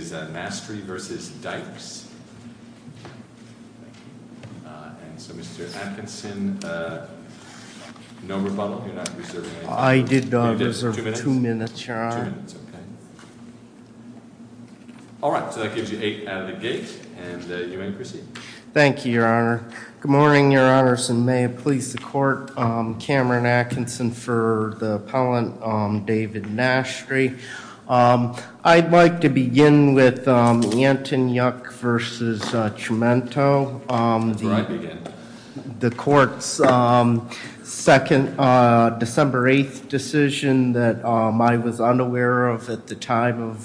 and so Mr. Atkinson, no rebuttal, you're not reserving any time. I did not reserve two minutes, your honor. Two minutes, okay. Alright, so that gives you eight out of the gate, and you may proceed. Thank you, your honor. Good morning, your honors, and may it please the court. Cameron Atkinson for the appellant, David Nastri. I'd like to begin with Antonyuk v. Tremento, the court's December 8th decision that I was unaware of at the time of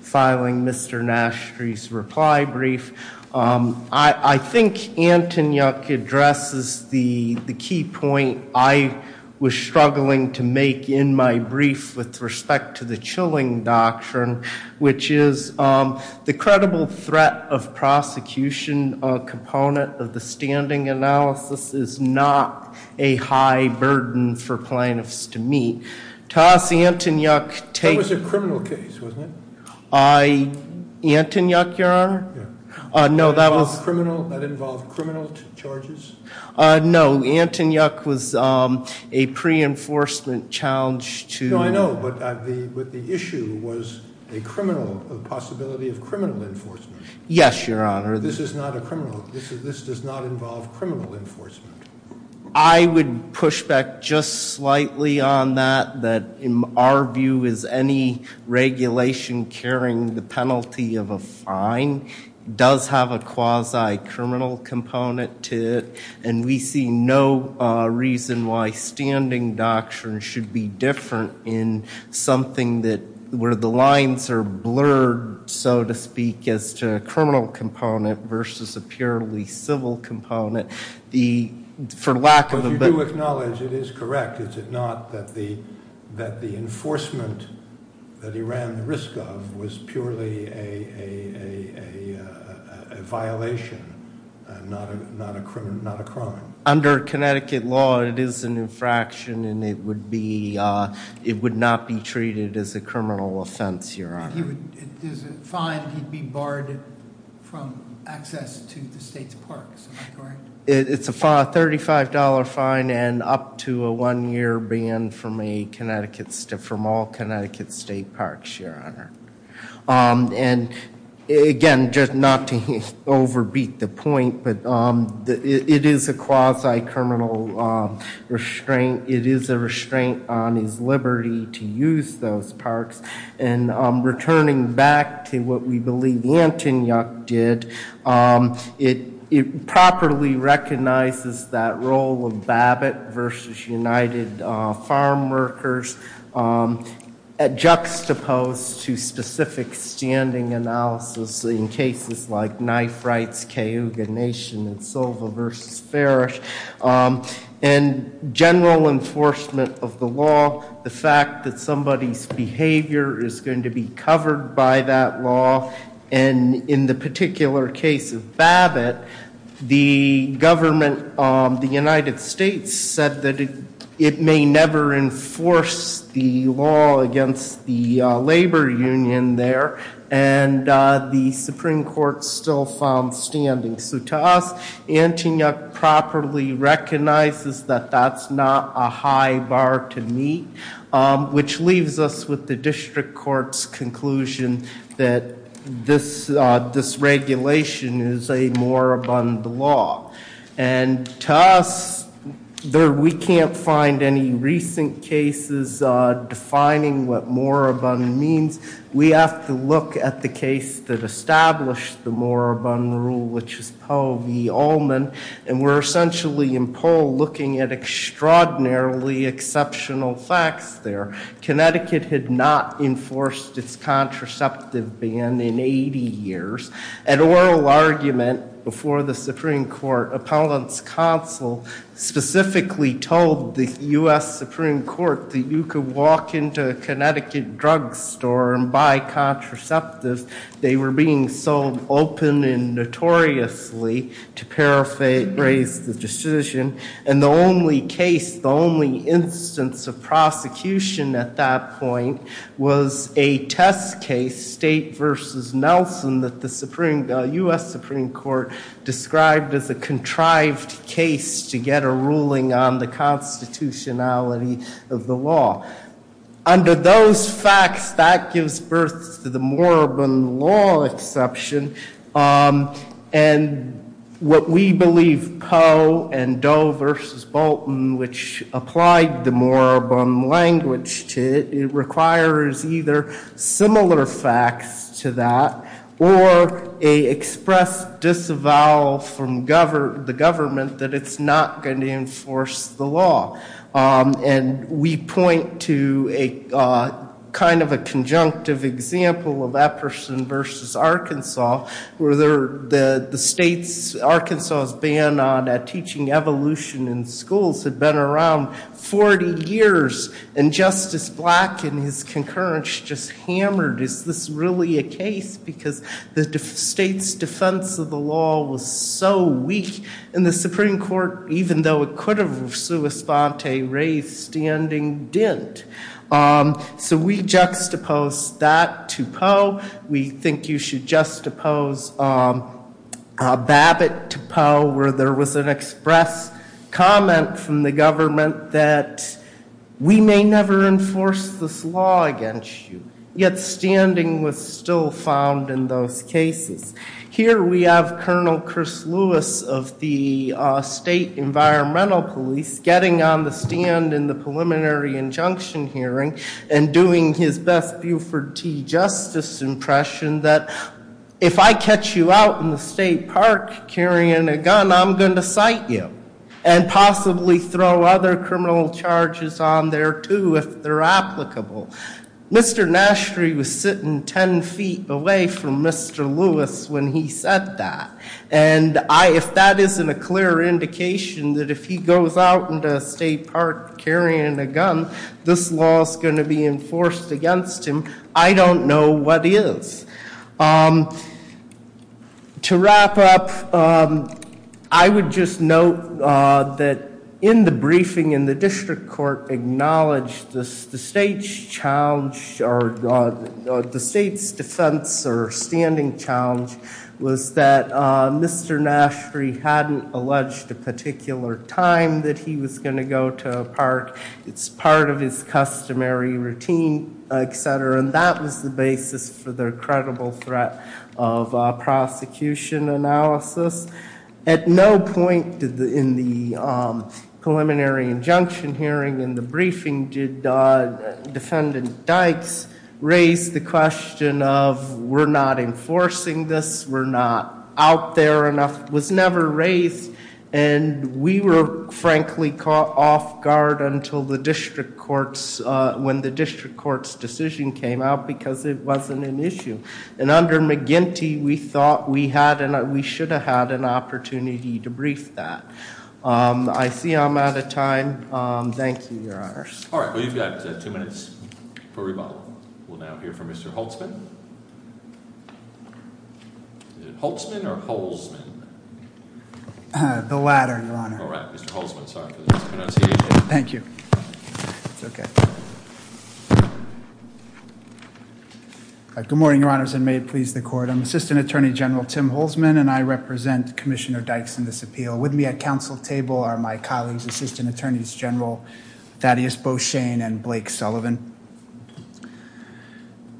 filing Mr. Nastri's reply brief. I think Antonyuk addresses the key point I was struggling to make in my brief with respect to the Chilling Doctrine, which is the credible threat of prosecution component of the standing analysis is not a high burden for plaintiffs to meet. That was a criminal case, wasn't it? Antonyuk, your honor? That involved criminal charges? No, Antonyuk was a pre-enforcement challenge to... No, I know, but the issue was a possibility of criminal enforcement. Yes, your honor. This does not involve criminal enforcement. I would push back just slightly on that, that in our view is any regulation carrying the penalty of a fine does have a quasi-criminal component to it, and we see no reason why standing doctrine should be different in something where the lines are blurred, so to speak, as to a criminal component versus a purely civil component. But you do acknowledge it is correct, is it not, that the enforcement that he ran the risk of was purely a violation and not a crime? Under Connecticut law, it is an infraction and it would not be treated as a criminal offense, your honor. Is it fine to be barred from access to the state's parks? It's a $35 fine and up to a one-year ban from all Connecticut state parks, your honor. And again, just not to overbeat the point, but it is a quasi-criminal restraint. It is a restraint on his liberty to use those parks. And returning back to what we believe Antonyuk did, it properly recognizes that role of Babbitt versus United Farm Workers at juxtaposed to specific standing analysis in cases like knife rights, Cayuga Nation, and Silva versus Ferris. And general enforcement of the law, the fact that somebody's behavior is going to be covered by that law. And in the particular case of Babbitt, the government of the United States said that it may never enforce the law against the labor union there. And the Supreme Court still found standing. So to us, Antonyuk properly recognizes that that's not a high bar to meet, which leaves us with the district court's conclusion that this regulation is a moribund law. And to us, we can't find any recent cases defining what moribund means. We have to look at the case that established the moribund rule, which is Poe v. Ullman. And we're essentially in poll looking at extraordinarily exceptional facts there. Connecticut had not enforced its contraceptive ban in 80 years. An oral argument before the Supreme Court appellant's counsel specifically told the U.S. Supreme Court that you could walk into a Connecticut drugstore and buy contraceptives. They were being so open and notoriously to paraphrase the decision. And the only case, the only instance of prosecution at that point was a test case, State v. Nelson, that the U.S. Supreme Court described as a contrived case to get a ruling on the constitutionality of the law. Under those facts, that gives birth to the moribund law exception. And what we believe Poe and Doe v. Bolton, which applied the moribund language to it, requires either similar facts to that or a expressed disavowal from the government that it's not going to enforce the law. And we point to kind of a conjunctive example of Epperson v. Arkansas, where Arkansas' ban on teaching evolution in schools had been around 40 years. And Justice Black, in his concurrence, just hammered, is this really a case? Because the state's defense of the law was so weak. And the Supreme Court, even though it could have responded, raised the ending, didn't. So we juxtapose that to Poe. We think you should juxtapose Babbitt to Poe, where there was an express comment from the government that we may never enforce this law against you. Yet standing was still found in those cases. Here we have Colonel Chris Lewis of the State Environmental Police getting on the stand in the preliminary injunction hearing and doing his best Buford T. Justice impression that if I catch you out in the state park carrying a gun, I'm going to cite you. And possibly throw other criminal charges on there, too, if they're applicable. Mr. Nashry was sitting 10 feet away from Mr. Lewis when he said that. And if that isn't a clear indication that if he goes out into a state park carrying a gun, this law is going to be enforced against him, I don't know what is. To wrap up, I would just note that in the briefing in the district court acknowledged the state's defense or standing challenge was that Mr. Nashry hadn't alleged a particular time that he was going to go to a park. It's part of his customary routine, etc. And that was the basis for their credible threat of prosecution analysis. At no point in the preliminary injunction hearing in the briefing did Defendant Dykes raise the question of we're not enforcing this. We're not out there enough. It was never raised. And we were, frankly, caught off guard until the district courts, when the district court's decision came out because it wasn't an issue. And under McGinty, we thought we should have had an opportunity to brief that. I see I'm out of time. Thank you, Your Honor. All right, well, you've got two minutes for rebuttal. We'll now hear from Mr. Holtzman. Holtzman or Holtzman? The latter, Your Honor. All right, Mr. Holtzman, sorry for the mispronunciation. Thank you. It's okay. Good morning, Your Honors, and may it please the Court. I'm Assistant Attorney General Tim Holtzman, and I represent Commissioner Dykes in this appeal. With me at council table are my colleagues, Assistant Attorneys General Thaddeus Beauchesne and Blake Sullivan.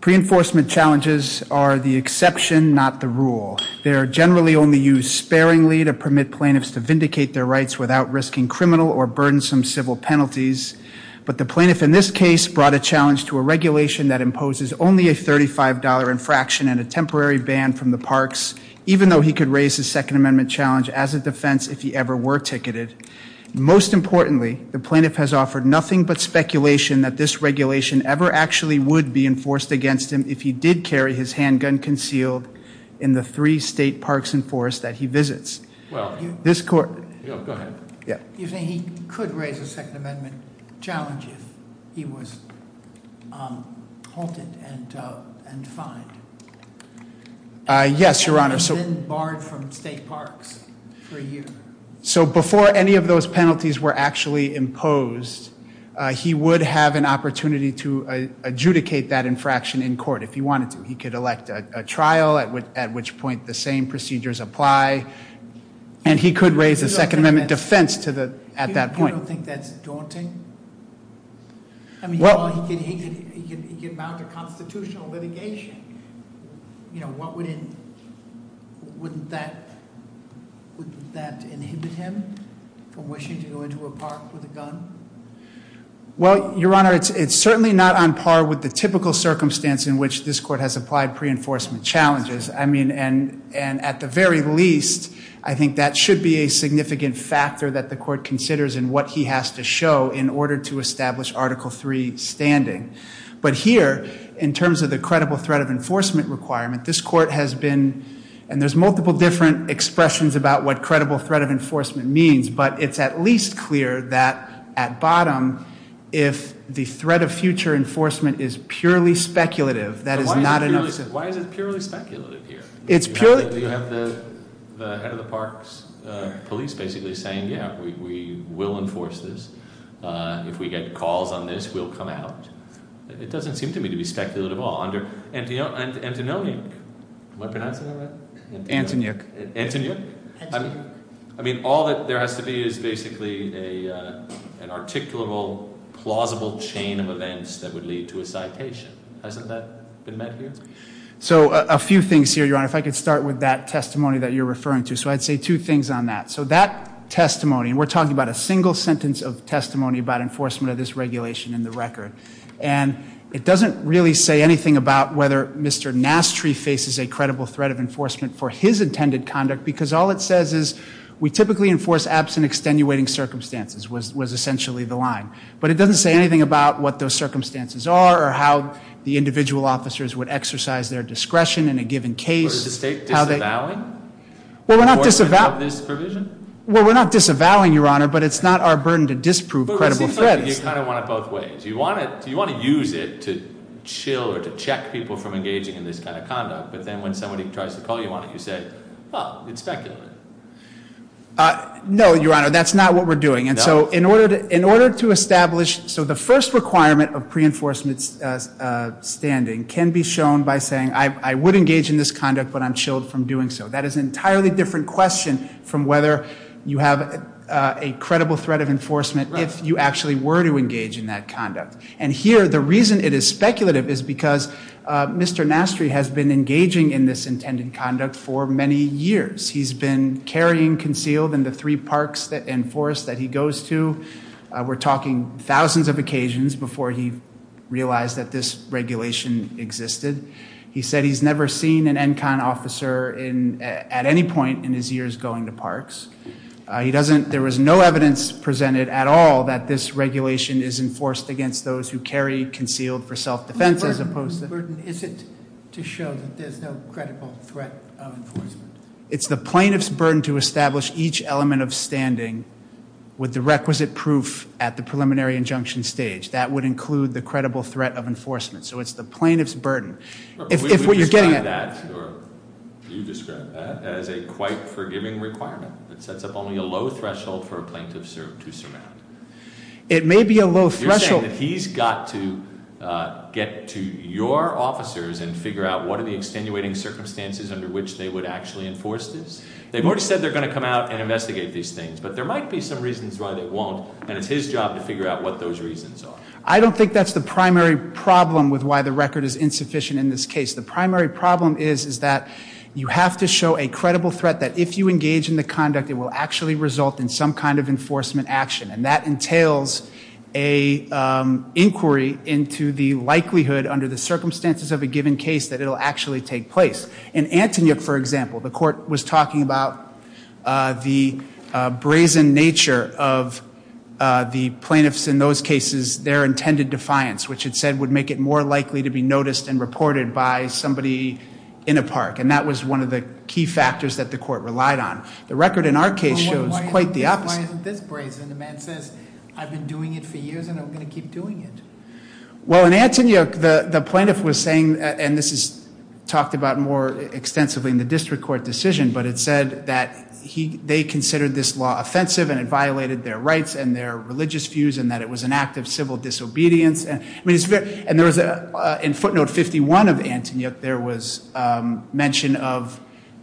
Pre-enforcement challenges are the exception, not the rule. They are generally only used sparingly to permit plaintiffs to vindicate their rights without risking criminal or burdensome civil penalties. But the plaintiff in this case brought a challenge to a regulation that imposes only a $35 infraction and a temporary ban from the parks, even though he could raise his Second Amendment challenge as a defense if he ever were ticketed. Most importantly, the plaintiff has offered nothing but speculation that this regulation ever actually would be enforced against him if he did carry his handgun concealed in the three state parks and forests that he visits. Well, go ahead. You're saying he could raise a Second Amendment challenge if he was halted and fined? Yes, Your Honor. And then barred from state parks for a year? So before any of those penalties were actually imposed, he would have an opportunity to adjudicate that infraction in court if he wanted to. He could elect a trial, at which point the same procedures apply. And he could raise a Second Amendment defense at that point. You don't think that's daunting? I mean, he could mount a constitutional litigation. Wouldn't that inhibit him from wishing to go into a park with a gun? Well, Your Honor, it's certainly not on par with the typical circumstance in which this court has applied pre-enforcement challenges. And at the very least, I think that should be a significant factor that the court considers in what he has to show in order to establish Article III standing. But here, in terms of the credible threat of enforcement requirement, this court has been and there's multiple different expressions about what credible threat of enforcement means, but it's at least clear that at bottom, if the threat of future enforcement is purely speculative, that is not enough- Why is it purely speculative here? It's purely- You have the head of the park's police basically saying, yeah, we will enforce this. If we get calls on this, we'll come out. It doesn't seem to me to be speculative at all. Under Antoninuk, am I pronouncing that right? Antoninuk. Antoninuk? Antoninuk. I mean, all that there has to be is basically an articulable, plausible chain of events that would lead to a citation. Hasn't that been met here? So, a few things here, Your Honor. If I could start with that testimony that you're referring to. So, I'd say two things on that. So, that testimony, and we're talking about a single sentence of testimony about enforcement of this regulation in the record, and it doesn't really say anything about whether Mr. Nastry faces a credible threat of enforcement for his intended conduct because all it says is, we typically enforce absent extenuating circumstances, was essentially the line. But it doesn't say anything about what those circumstances are or how the individual officers would exercise their discretion in a given case. Or is the state disavowing enforcement of this provision? Well, we're not disavowing, Your Honor, but it's not our burden to disprove credible threats. But it seems like you kind of want it both ways. You want to use it to chill or to check people from engaging in this kind of conduct, but then when somebody tries to call you on it, you say, well, it's speculative. No, Your Honor, that's not what we're doing. And so, in order to establish, so the first requirement of pre-enforcement standing can be shown by saying, I would engage in this conduct, but I'm chilled from doing so. That is an entirely different question from whether you have a credible threat of enforcement if you actually were to engage in that conduct. And here, the reason it is speculative is because Mr. Nastry has been engaging in this intended conduct for many years. He's been carrying concealed in the three parks and forests that he goes to. We're talking thousands of occasions before he realized that this regulation existed. He said he's never seen an ENCON officer at any point in his years going to parks. There was no evidence presented at all that this regulation is enforced against those who carry concealed for self-defense as opposed to- Is it to show that there's no credible threat of enforcement? It's the plaintiff's burden to establish each element of standing with the requisite proof at the preliminary injunction stage. That would include the credible threat of enforcement. So, it's the plaintiff's burden. We describe that, or you describe that, as a quite forgiving requirement. It sets up only a low threshold for a plaintiff to surround. It may be a low threshold- Get to your officers and figure out what are the extenuating circumstances under which they would actually enforce this. They've already said they're going to come out and investigate these things, but there might be some reasons why they won't. And it's his job to figure out what those reasons are. I don't think that's the primary problem with why the record is insufficient in this case. The primary problem is that you have to show a credible threat that if you engage in the conduct, it will actually result in some kind of enforcement action. And that entails an inquiry into the likelihood under the circumstances of a given case that it will actually take place. In Antonyuk, for example, the court was talking about the brazen nature of the plaintiffs in those cases, their intended defiance, which it said would make it more likely to be noticed and reported by somebody in a park. And that was one of the key factors that the court relied on. Why isn't this brazen? The man says, I've been doing it for years and I'm going to keep doing it. Well, in Antonyuk, the plaintiff was saying, and this is talked about more extensively in the district court decision, but it said that they considered this law offensive and it violated their rights and their religious views and that it was an act of civil disobedience. And there was, in footnote 51 of Antonyuk, there was mention of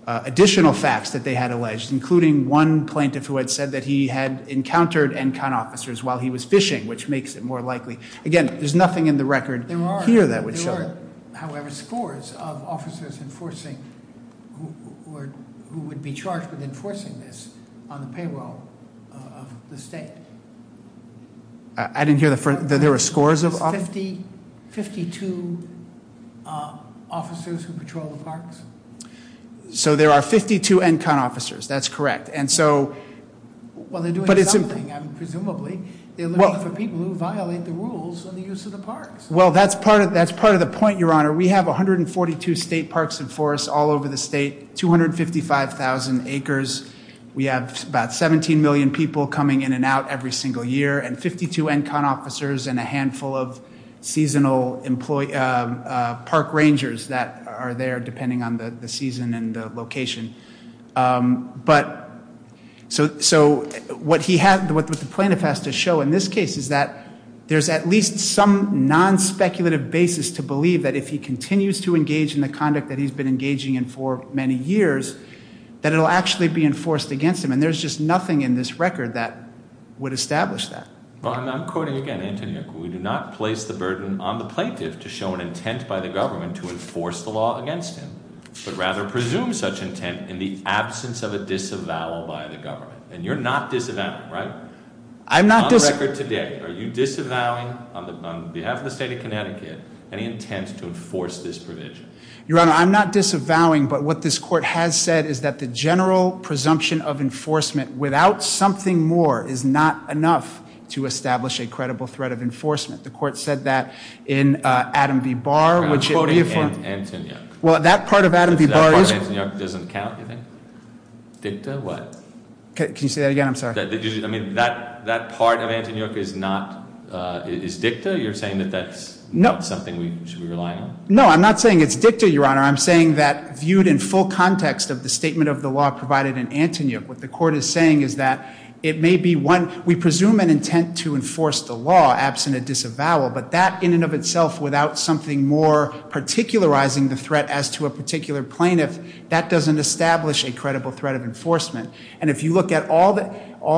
additional facts that they had alleged, including one plaintiff who had said that he had encountered NCON officers while he was fishing, which makes it more likely. Again, there's nothing in the record here that would show that. There are, however, scores of officers enforcing or who would be charged with enforcing this on the payroll of the state. I didn't hear that there were scores of officers? So there are 52 NCON officers. That's correct. And so- Well, they're doing something, presumably. They're looking for people who violate the rules on the use of the parks. Well, that's part of the point, Your Honor. We have 142 state parks and forests all over the state, 255,000 acres. We have about 17 million people coming in and out every single year. And 52 NCON officers and a handful of seasonal park rangers that are there, depending on the season and the location. But so what the plaintiff has to show in this case is that there's at least some non-speculative basis to believe that if he continues to engage in the conduct that he's been engaging in for many years, that it will actually be enforced against him. And there's just nothing in this record that would establish that. I'm quoting again, Antonia. We do not place the burden on the plaintiff to show an intent by the government to enforce the law against him, but rather presume such intent in the absence of a disavowal by the government. And you're not disavowing, right? I'm not dis- On the record today, are you disavowing, on behalf of the state of Connecticut, any intent to enforce this provision? Your Honor, I'm not disavowing, but what this court has said is that the general presumption of enforcement without something more is not enough to establish a credible threat of enforcement. The court said that in Adam V. Barr, which it reaffirmed- I'm quoting Antonia. Well, that part of Adam V. Barr is- That part of Antonia doesn't count, you think? Dicta, what? Can you say that again? I'm sorry. I mean, that part of Antonia is not, is dicta? You're saying that that's not something we should be relying on? No, I'm not saying it's dicta, Your Honor. I'm saying that viewed in full context of the statement of the law provided in Antonia, what the court is saying is that it may be one- we presume an intent to enforce the law absent a disavowal, but that in and of itself without something more particularizing the threat as to a particular plaintiff, that doesn't establish a credible threat of enforcement. And if you look at all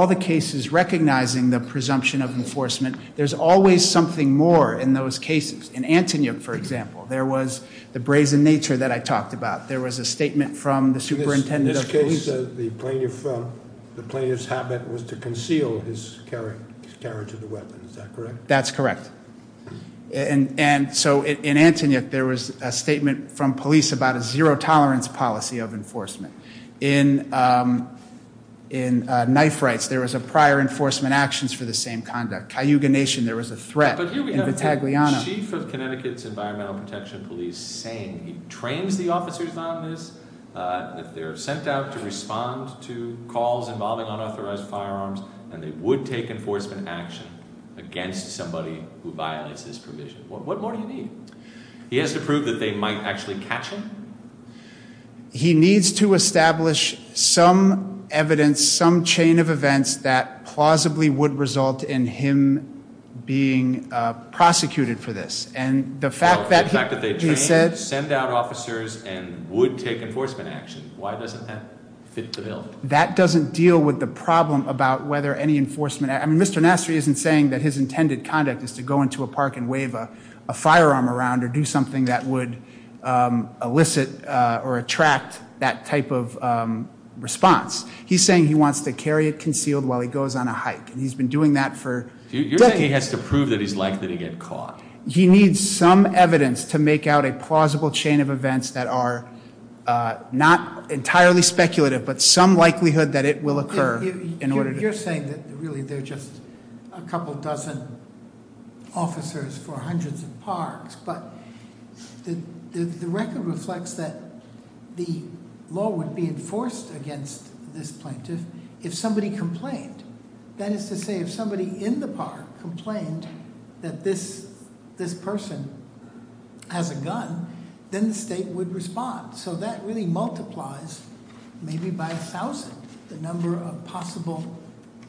the cases recognizing the presumption of enforcement, there's always something more in those cases. In Antonia, for example, there was the brazen nature that I talked about. There was a statement from the superintendent of police- In this case, the plaintiff's habit was to conceal his carriage of the weapon. Is that correct? That's correct. And so in Antonia, there was a statement from police about a zero-tolerance policy of enforcement. In Knife Rights, there was a prior enforcement actions for the same conduct. Cayuga Nation, there was a threat. But here we have the chief of Connecticut's Environmental Protection Police saying he trains the officers on this, that they're sent out to respond to calls involving unauthorized firearms, and they would take enforcement action against somebody who violates this provision. What more do you need? He has to prove that they might actually catch him? He needs to establish some evidence, some chain of events, that plausibly would result in him being prosecuted for this. And the fact that he said- The fact that they train, send out officers, and would take enforcement action. Why doesn't that fit the bill? That doesn't deal with the problem about whether any enforcement- I mean, Mr. Nassery isn't saying that his intended conduct is to go into a park and wave a firearm around or do something that would elicit or attract that type of response. He's saying he wants to carry it concealed while he goes on a hike. And he's been doing that for decades. You're saying he has to prove that he's likely to get caught? He needs some evidence to make out a plausible chain of events that are not entirely speculative, You're saying that really they're just a couple dozen officers for hundreds of parks, but the record reflects that the law would be enforced against this plaintiff if somebody complained. That is to say, if somebody in the park complained that this person has a gun, then the state would respond. So that really multiplies, maybe by a thousand, the number of possible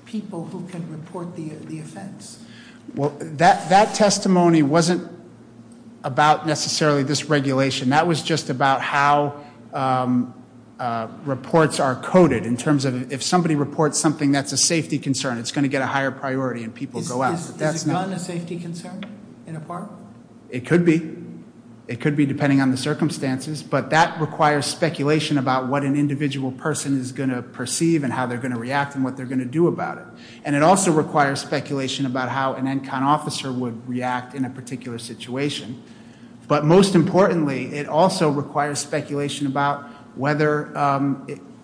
people who can report the offense. Well, that testimony wasn't about necessarily this regulation. That was just about how reports are coded. In terms of if somebody reports something that's a safety concern, it's going to get a higher priority and people go out. Is a gun a safety concern in a park? It could be. It could be, depending on the circumstances. But that requires speculation about what an individual person is going to perceive and how they're going to react and what they're going to do about it. And it also requires speculation about how an ENCON officer would react in a particular situation. But most importantly, it also requires speculation about whether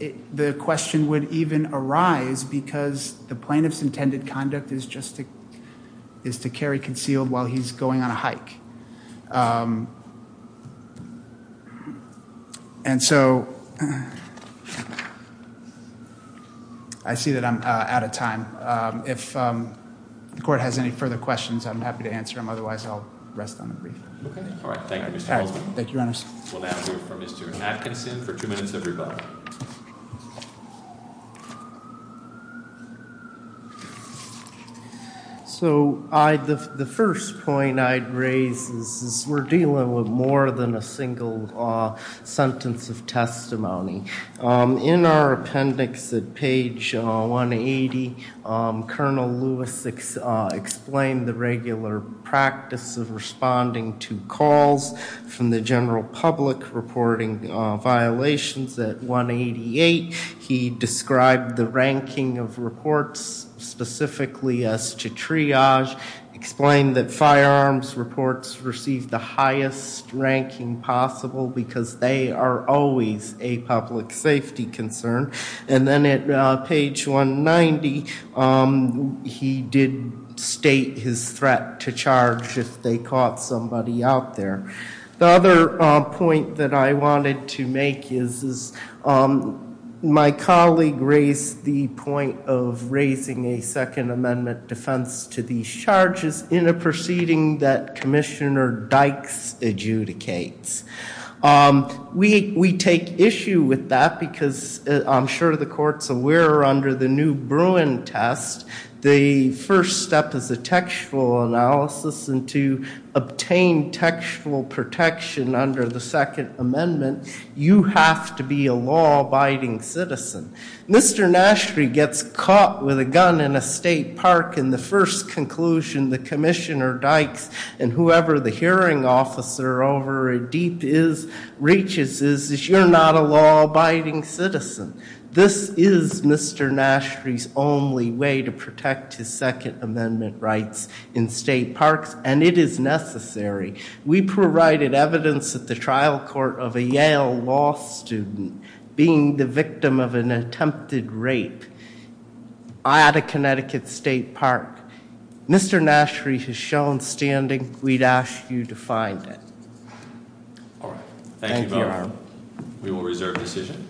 the question would even arise because the plaintiff's intended conduct is just to carry concealed while he's going on a hike. And so I see that I'm out of time. If the court has any further questions, I'm happy to answer them. Otherwise, I'll rest on the brief. All right. Thank you, Mr. Holzman. Thank you, Your Honor. We'll now hear from Mr. Atkinson for two minutes of rebuttal. So the first point I'd raise is we're dealing with more than a single sentence of testimony. In our appendix at page 180, Colonel Lewis explained the regular practice of responding to calls from the general public reporting violations at 188. He described the ranking of reports, specifically as to triage, explained that firearms reports received the highest ranking possible because they are always a public safety concern. And then at page 190, he did state his threat to charge if they caught somebody out there. The other point that I wanted to make is my colleague raised the point of raising a Second Amendment defense to these charges in a proceeding that Commissioner Dykes adjudicates. We take issue with that because I'm sure the court's aware under the new Bruin test, the first step is a textual analysis. And to obtain textual protection under the Second Amendment, you have to be a law-abiding citizen. Mr. Nashry gets caught with a gun in a state park. And the first conclusion that Commissioner Dykes and whoever the hearing officer over at DEEP reaches is that you're not a law-abiding citizen. This is Mr. Nashry's only way to protect his Second Amendment rights in state parks. And it is necessary. We provided evidence at the trial court of a Yale law student being the victim of an attempted rape at a Connecticut state park. Mr. Nashry has shown standing. We'd ask you to find it. Thank you. We will reserve decision.